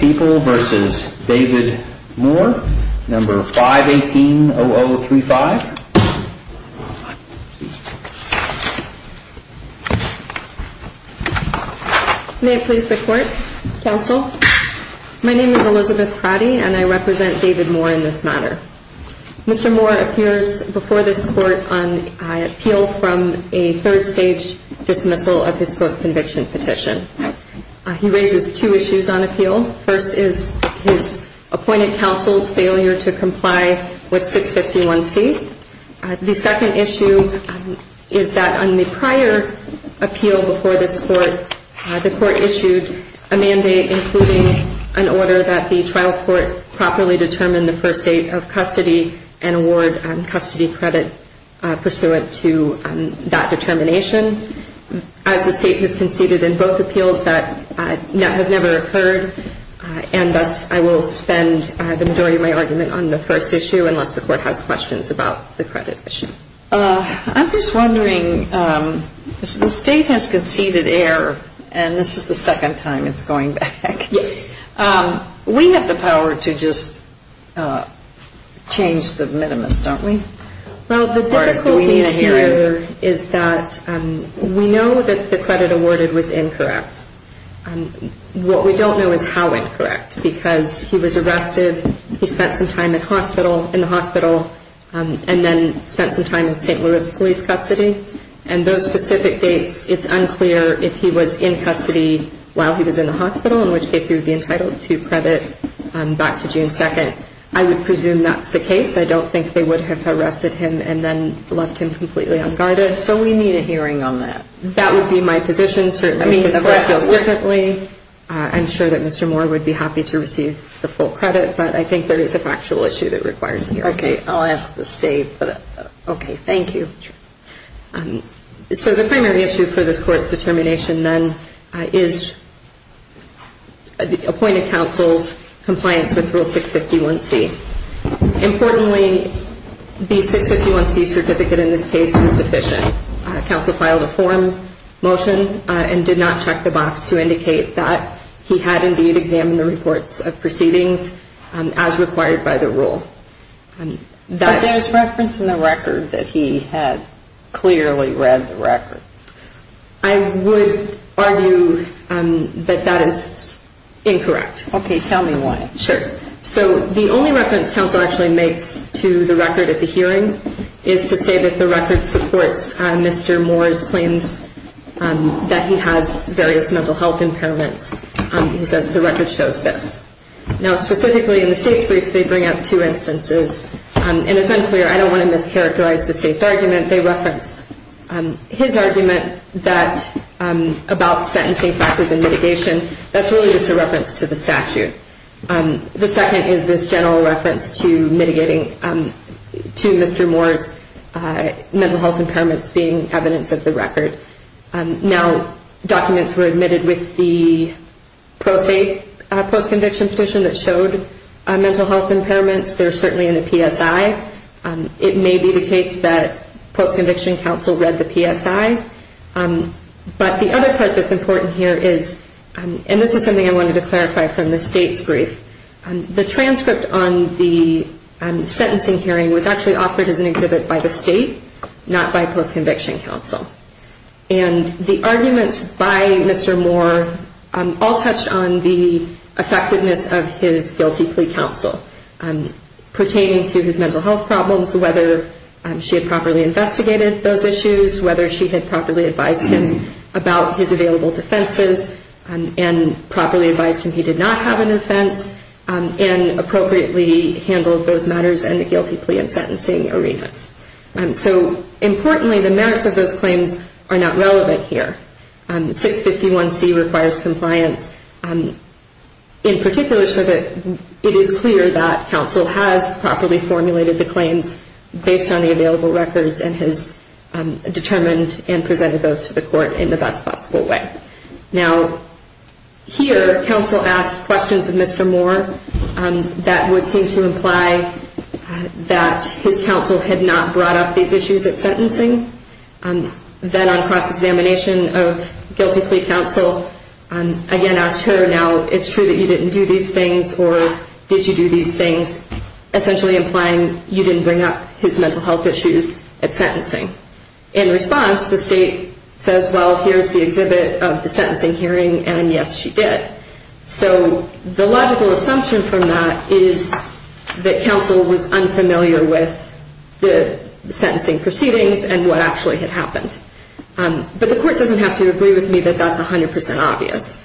v. David Moore 518-0035 May it please the Court, Counsel. My name is Elizabeth Pratti and I represent David Moore in this matter. Mr. Moore appears before this Court on appeal from a third-stage dismissal of his post-conviction petition. He raises two issues on appeal. First is his appointed counsel's failure to comply with 651C. The second issue is that on the prior appeal before this Court, the Court issued a mandate including an order that the trial court properly determine the first date of custody and award custody credit pursuant to that determination. As the State has conceded in both appeals, that has never occurred and thus I will spend the majority of my argument on the first issue unless the Court has questions about the credit issue. I'm just wondering, the State has conceded error and this is the second time it's going back. We have the power to just change the minimus, don't we? Well, the difficulty here is that we know that the credit awarded was incorrect. What we don't know is how incorrect because he was arrested, he spent some time in the hospital and then spent some time in St. Louis police custody and those specific dates, it's unclear if he was in custody while he was in the hospital, in which case he would be entitled to credit back to June 2nd. I would presume that's the case. I don't think they would have arrested him and then left him completely unguarded. So we need a hearing on that? That would be my position, certainly because that feels differently. I'm sure that Mr. Moore would be happy to receive the full credit, but I think there is a factual issue that requires a hearing. Okay, I'll ask the State. Okay, thank you. So the primary issue for this Court's determination then is appointed counsel's compliance with Rule 651C. Importantly, the 651C certificate in this case was deficient. Counsel filed a forum motion and did not check the box to indicate that he had indeed examined the reports But there's reference in the record that he had clearly read the record. I would argue that that is incorrect. Okay, tell me why. Sure. So the only reference counsel actually makes to the record at the hearing is to say that the record supports Mr. Moore's claims that he has various mental health impairments. He says the record shows this. Now specifically in the State's brief, they bring up two instances and it's unclear. I don't want to mischaracterize the State's argument. They reference his argument that about sentencing factors and mitigation. That's really just a reference to the statute. The second is this general reference to mitigating to Mr. Moore's mental health impairments being evidence of the record. Now documents were admitted with the pro se post-conviction petition that showed mental health impairments. They're certainly in the PSI. It may be the case that post-conviction counsel read the PSI. But the other part that's important here is, and this is something I wanted to clarify from the State's brief, the transcript on the sentencing hearing was actually offered as an exhibit by the State, not by post-conviction counsel. And the arguments by Mr. Moore all touched on the effectiveness of his guilty plea counsel pertaining to his mental health problems, whether she had properly investigated those issues, whether she had properly advised him about his available defenses, and properly advised him he did not have an offense, and appropriately handled those matters in the guilty plea and sentencing arenas. So importantly, the merits of those claims are not compliance. In particular, it is clear that counsel has properly formulated the claims based on the available records and has determined and presented those to the court in the best possible way. Now here, counsel asked questions of Mr. Moore that would seem to imply that his counsel had not brought up these issues at sentencing. Then on cross-examination of guilty plea counsel, again asked her, now, it's true that you didn't do these things, or did you do these things, essentially implying you didn't bring up his mental health issues at sentencing. In response, the State says, well, here's the exhibit of the sentencing hearing, and yes, she did. So the logical assumption from that is that counsel was unfamiliar with the sentencing proceedings and what actually had happened. But the court doesn't have to agree with me that that's 100% obvious,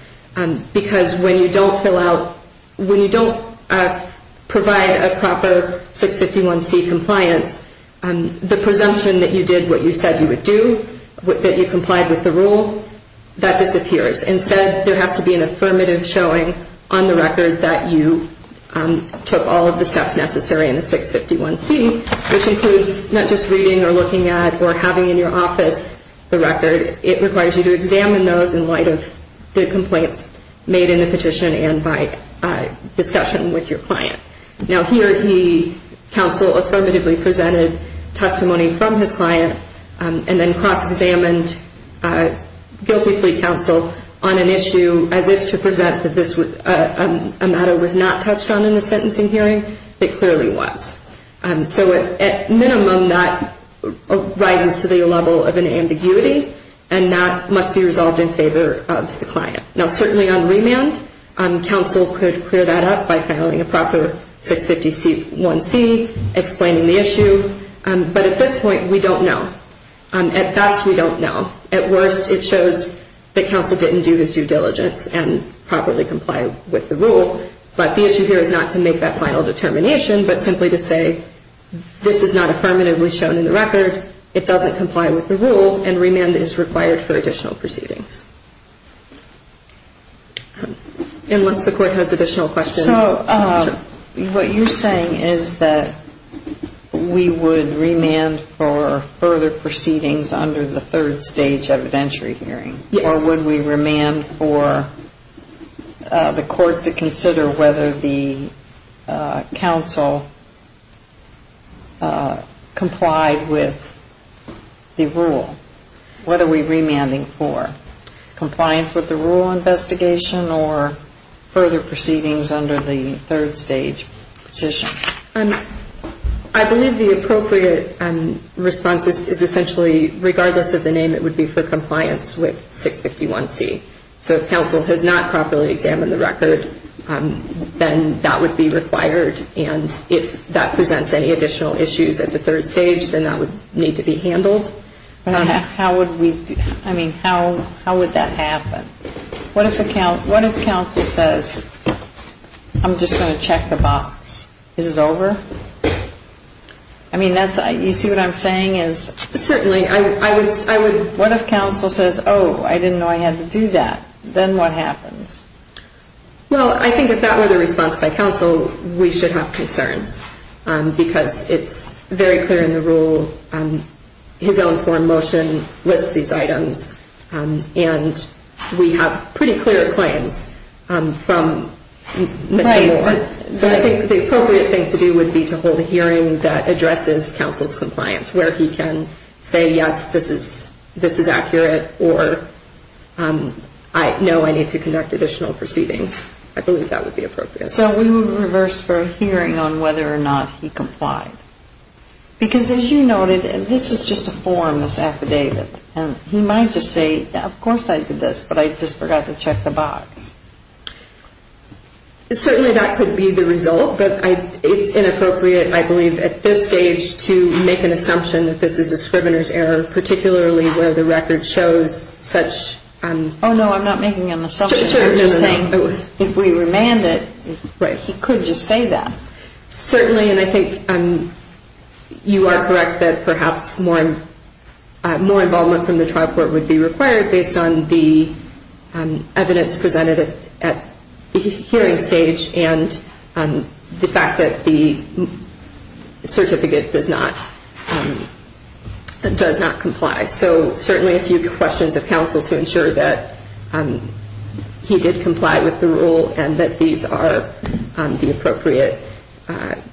because when you don't fill out, when you don't provide a proper 651C compliance, the presumption that you did what you said you would do, that you complied with the rule, that disappears. Instead, there has to be an affirmative showing on the record that you took all of the steps necessary in the 651C, which includes not just reading or looking at or having in your office the record. It requires you to examine those in light of the complaints made in the petition and by discussion with your client. Now, here he, counsel, affirmatively presented testimony from his client and then cross-examined guilty plea counsel on an issue as if to present that this matter was not touched on in the sentencing hearing. It clearly was. So at minimum, that rises to the level of an ambiguity, and that must be resolved in favor of the client. Now, certainly on remand, counsel could clear that up by filing a proper 651C, explaining the issue. But at this point, we don't know. At best, we don't know. At worst, it shows that counsel didn't do his due diligence and properly complied with the rule. But the issue here is not to make that final determination, but simply to say this is not affirmatively shown in the record, it doesn't comply with the rule, and remand is required for additional proceedings. Unless the Court has additional questions. So what you're saying is that we would remand for further proceedings under the third stage evidentiary hearing? Yes. Or would we remand for the Court to consider whether the counsel complied with the rule? What are we remanding for? Compliance with the rule investigation or further proceedings under the third stage petition? I believe the appropriate response is essentially regardless of the name, it would be for compliance with 651C. So if counsel has not properly examined the record, then that would be required. And if that presents any additional issues at the third stage, then that would need to be handled. How would that happen? What if counsel says, I'm just going to check the box, is it over? You see what I'm saying? Certainly. What if counsel says, oh, I didn't know I had to do that, then what happens? Well, I think if that were the response by counsel, we should have concerns. Because it's very clear in the rule, his own form motion lists these items, and we have pretty clear claims from Mr. Moore. So I think the appropriate thing to do would be to hold a hearing that addresses counsel's compliance, where he can say, yes, this is accurate, or no, I need to conduct additional proceedings. I believe that would be appropriate. So we would reverse for a hearing on whether or not he complied. Because as you noted, this is just a form that's affidavit. And he might just say, of course I did this, but I just forgot to check the box. Certainly that could be the result, but it's inappropriate, I believe, at this stage to make an assumption that this is a form. If we remand it, he could just say that. Certainly, and I think you are correct that perhaps more involvement from the trial court would be required based on the evidence presented at the hearing stage and the fact that the certificate does not comply. So certainly a few questions of counsel to ensure that he did comply with the rule and that these are the appropriate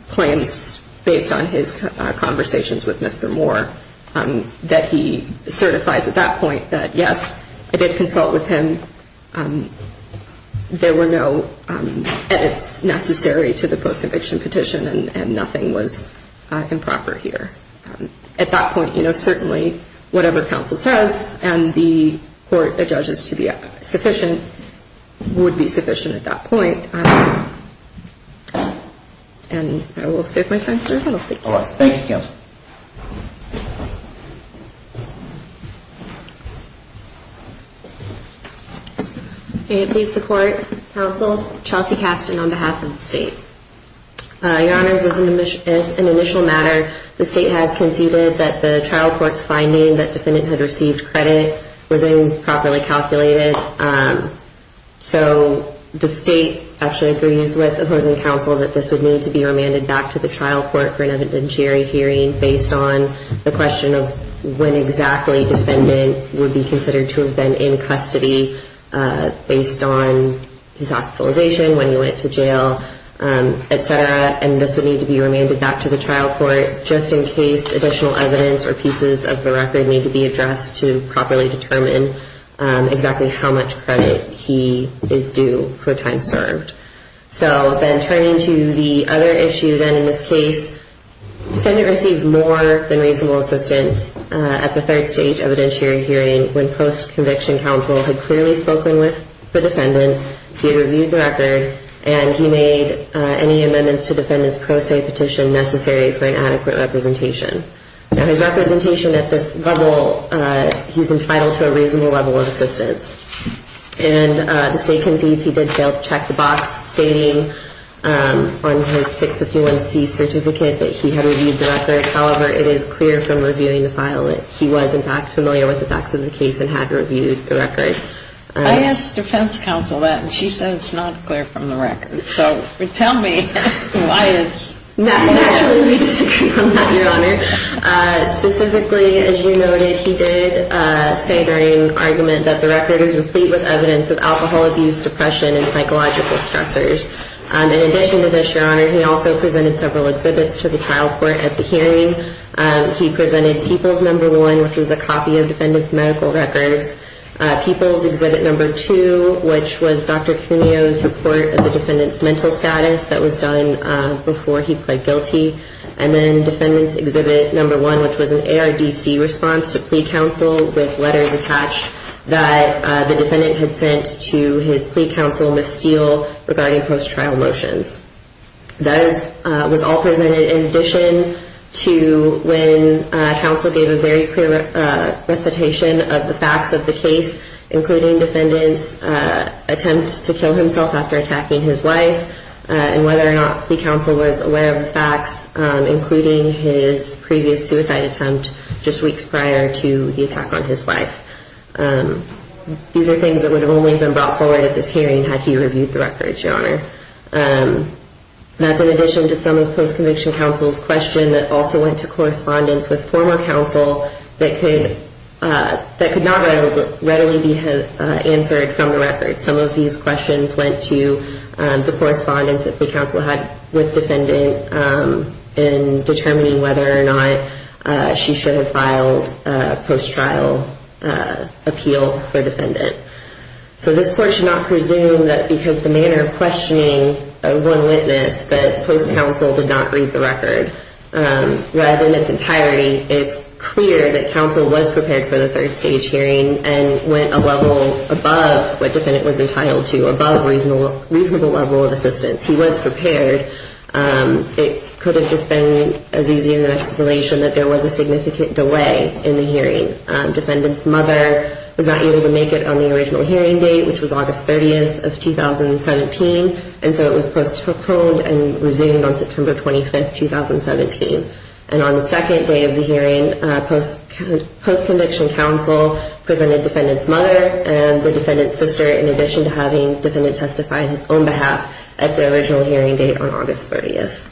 claims based on his conversations with Mr. Moore, that he certifies at that point that, yes, I did consult with him. There were no edits necessary to the post-conviction petition, and nothing was improper here. At that point, you know, certainly whatever counsel says and the court judges to be sufficient, I think it would be appropriate to say that Mr. Moore did not consult with Mr. Moore at that point, and that would be sufficient at that point. And I will save my time for the panel. Thank you. May it please the court, counsel, Chelsea Caston on behalf of the state. Your honors, as an initial matter, the state has conceded that the trial court's finding that defendant had received credit was improperly calculated. So the state actually agrees with opposing counsel that this would need to be remanded back to the trial court for an evidentiary hearing based on the question of when exactly defendant would be considered to have been in custody based on his hospitalization, when he went to jail, et cetera, and this would need to be remanded back to the trial court just in case additional evidence or pieces of the record need to be addressed to properly determine exactly how much credit he is due for time served. So then turning to the other issue then in this case, defendant received more than reasonable assistance at the third stage evidentiary hearing when post-conviction counsel had clearly spoken with the defendant, he reviewed the record, and he made any amendments to defendant's pro se petition necessary for him to be released. Now, his representation at this level, he's entitled to a reasonable level of assistance. And the state concedes he did fail to check the box stating on his 651C certificate that he had reviewed the record. However, it is clear from reviewing the file that he was, in fact, familiar with the facts of the case and had reviewed the record. I asked defense counsel that, and she said it's not clear from the record. So tell me why it's not clear. Naturally, we disagree on that, Your Honor. Specifically, as you noted, he did say during argument that the record was complete with evidence of alcohol abuse, depression, and psychological stressors. In addition to this, Your Honor, he also presented several exhibits to the trial court at the hearing. He presented People's No. 1, which was a copy of defendant's medical records, People's Exhibit No. 2, which was Dr. Cuneo's report of the defendant's mental health status that was done before he pled guilty, and then Defendant's Exhibit No. 1, which was an ARDC response to plea counsel with letters attached that the defendant had sent to his plea counsel, Ms. Steele, regarding post-trial motions. Those was all presented in addition to when counsel gave a very clear recitation of the facts of the case, including defendant's attempt to kill himself after attacking his wife, and the defendant's plea counsel, Ms. Steele, and whether or not plea counsel was aware of the facts, including his previous suicide attempt just weeks prior to the attack on his wife. These are things that would have only been brought forward at this hearing had he reviewed the records, Your Honor. That's in addition to some of the post-conviction counsel's questions that also went to correspondence with former counsel that could not readily be answered from the records. Some of these questions went to the correspondence that plea counsel had with defendant in determining whether or not she should have filed a post-trial appeal for defendant. So this Court should not presume that because of the manner of questioning of one witness that post-counsel did not read the record. Rather, in its entirety, it's clear that counsel was prepared for the third stage hearing and went a level above what defendant was entitled to in order to provide reasonable level of assistance. He was prepared. It could have just been as easy an explanation that there was a significant delay in the hearing. Defendant's mother was not able to make it on the original hearing date, which was August 30th of 2017, and so it was postponed and resumed on September 25th, 2017. And on the second day of the hearing, post-conviction counsel presented defendant's mother and the defendant's sister in addition to having defendant testify on his own behalf at the original hearing date on August 30th.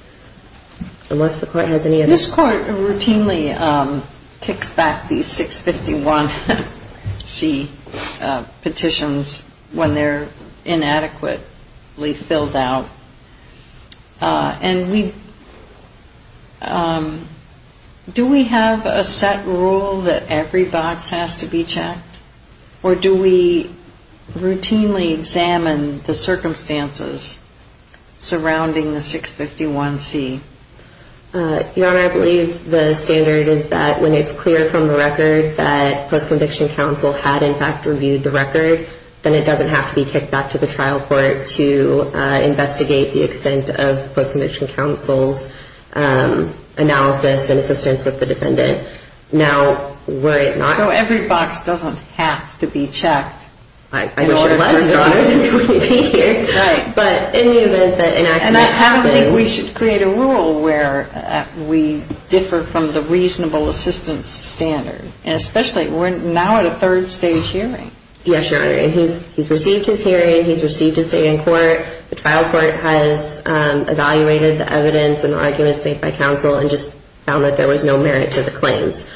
Unless the Court has any other questions. This Court routinely kicks back these 651C petitions when they're inadequately filled out. And do we have a set rule that every box has to be checked, or do we routinely examine the circumstances surrounding the 651C? Your Honor, I believe the standard is that when it's clear from the record that post-conviction counsel had in fact reviewed the record, then it doesn't have to be kicked back to the trial court to investigate the extent of post-conviction counsel's analysis and assistance with the defendant. Now, were it not for that rule, every box doesn't have to be checked. I wish our daughters wouldn't be here. But in the event that an accident happens... And I don't think we should create a rule where we differ from the reasonable assistance standard. And especially, we're now at a third stage hearing. Yes, Your Honor, and he's received his hearing, he's received his day in court, the trial court has evaluated the evidence and arguments made by counsel and just found that there was no merit to the claims.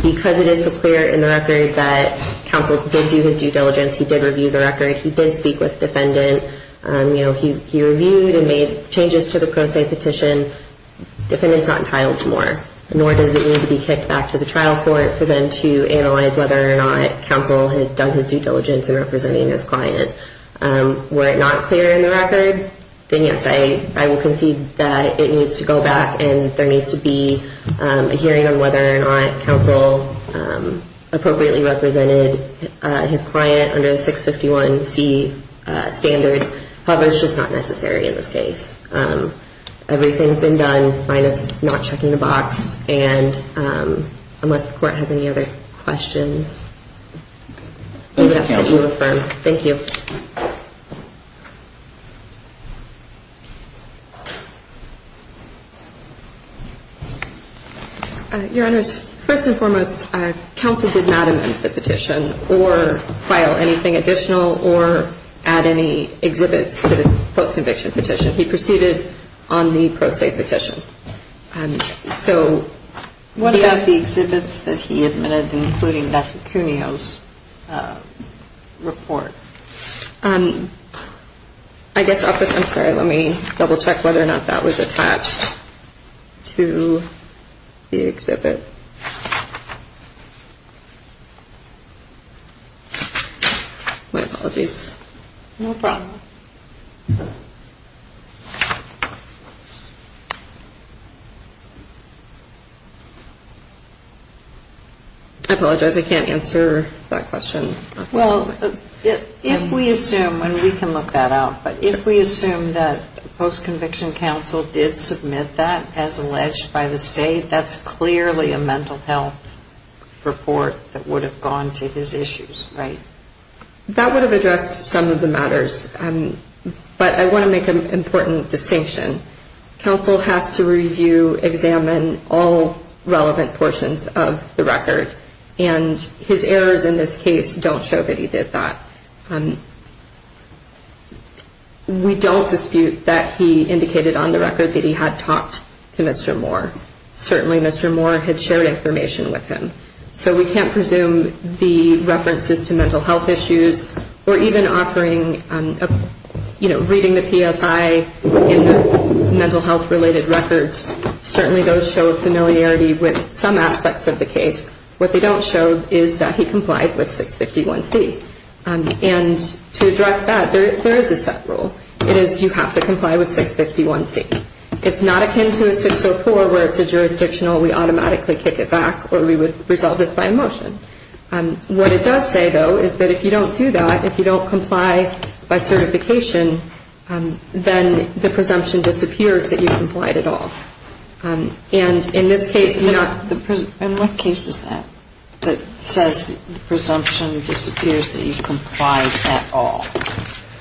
Because it is so clear in the record that counsel did do his due diligence, he did review the record, he did speak with defendant, you know, he reviewed and made changes to the pro se petition, defendant's not entitled to more. Nor does it need to be kicked back to the trial court for them to analyze whether or not counsel had done his due diligence in representing his client. Were it not clear in the record, then yes, I will concede that it needs to go back and there needs to be a hearing on whether or not counsel appropriately represented his client under the 651C standards. However, it's just not necessary in this case. Everything's been done, minus not checking the box. And unless the court has any other questions, we would ask that you affirm. Thank you. Your Honor, first and foremost, counsel did not amend the petition or file anything additional or add any exhibits to the post-conviction petition. He proceeded on the pro se petition. So what about the exhibits that he admitted, including Dr. Cuneo's report? I guess, I'm sorry, let me double check whether or not that was attached to the exhibit. My apologies. No problem. I apologize, I can't answer that question. Well, if we assume, and we can look that out, but if we assume that post-conviction counsel did submit that as alleged by the state, that's clearly a mental health report that would have gone to his issues, right? That would have addressed some of the matters. But I want to make an important distinction. Counsel has to review, examine all relevant portions of the record. And his errors in this case don't show that he did that. We don't dispute that he indicated on the record that he had talked to Mr. Moore. Certainly Mr. Moore had shared information with him. So we can't presume the references to mental health issues or even offering, you know, reading the PSI in the mental health-related records, certainly those show familiarity with some aspects of the case. What they don't show is that he complied with 651C. And to address that, there is a set rule. It is you have to comply with 651C. It's not akin to a 604 where it's a jurisdictional, we automatically kick it back, or we would resolve this by a motion. What it does say, though, is that if you don't do that, if you don't comply by certification, then the presumption disappears that you complied at all. And in this case, you're not... And what case is that that says presumption disappears that you complied at all?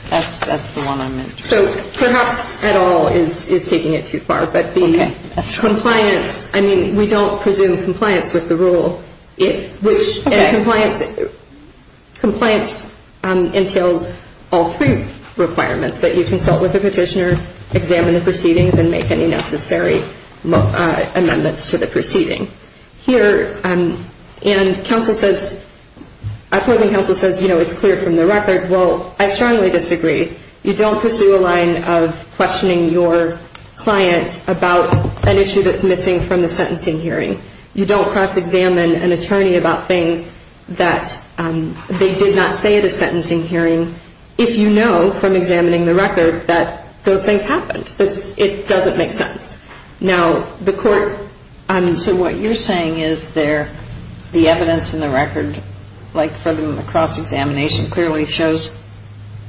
That's the one I'm interested in. So perhaps at all is taking it too far. But the compliance, I mean, we don't presume compliance with the rule. And compliance entails all three requirements, that you consult with the petitioner, examine the proceedings, and make any necessary amendments to the proceeding. Here, and counsel says, opposing counsel says, you know, it's clear from the record. Well, I strongly disagree. You don't pursue a line of questioning your client about an issue that's missing from the sentencing hearing. You don't cross-examine an attorney about things that they did not say at a sentencing hearing if you know from examining the record that those things happened. It doesn't make sense. Now, the court... The evidence in the record, like for the cross-examination, clearly shows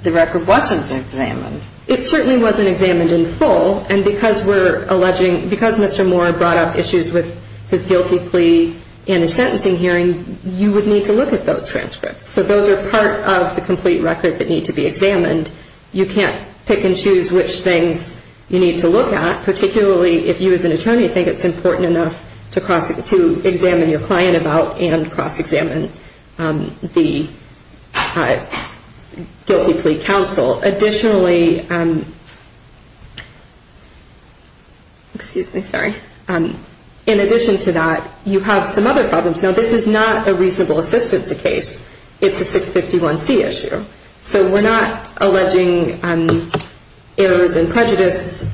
the record wasn't examined. It certainly wasn't examined in full. And because we're alleging, because Mr. Moore brought up issues with his guilty plea in a sentencing hearing, you would need to look at those transcripts. So those are part of the complete record that need to be examined. You can't pick and choose which things you need to look at, particularly if you, as an attorney, think it's important enough to examine the record. You need to examine your client about and cross-examine the guilty plea counsel. Additionally... Excuse me. Sorry. In addition to that, you have some other problems. Now, this is not a reasonable assistance case. It's a 651C issue. So we're not alleging errors and prejudice.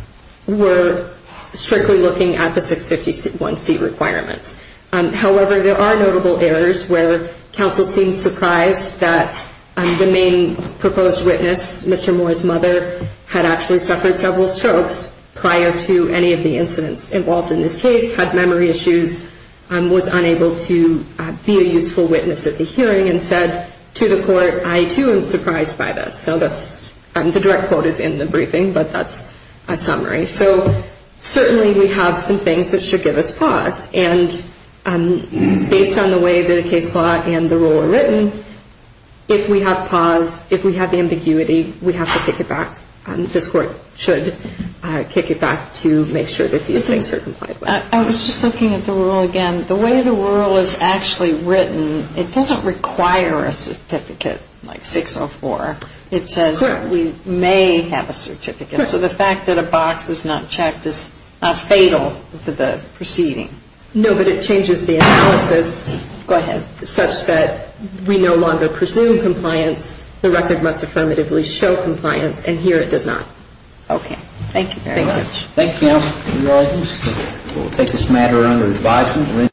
We're strictly looking at the 651C requirements. However, there are notable errors where counsel seems surprised that the main proposed witness, Mr. Moore's mother, had actually suffered several strokes prior to any of the incidents involved in this case, had memory issues, was unable to be a useful witness at the hearing, and said to the court, I, too, am surprised by this. So that's... The direct quote is in the briefing, but that's a summary. So certainly we have some things that should give us pause. And I'm going to turn it over to Mr. Moore. Based on the way the case law and the rule are written, if we have pause, if we have ambiguity, we have to kick it back. This court should kick it back to make sure that these things are complied with. I was just looking at the rule again. The way the rule is actually written, it doesn't require a certificate like 604. It says we may have a certificate. So the fact that a box is not checked is not fatal to the proceeding. No, but it changes the analysis such that we no longer presume compliance. The record must affirmatively show compliance, and here it does not. Okay. Thank you very much.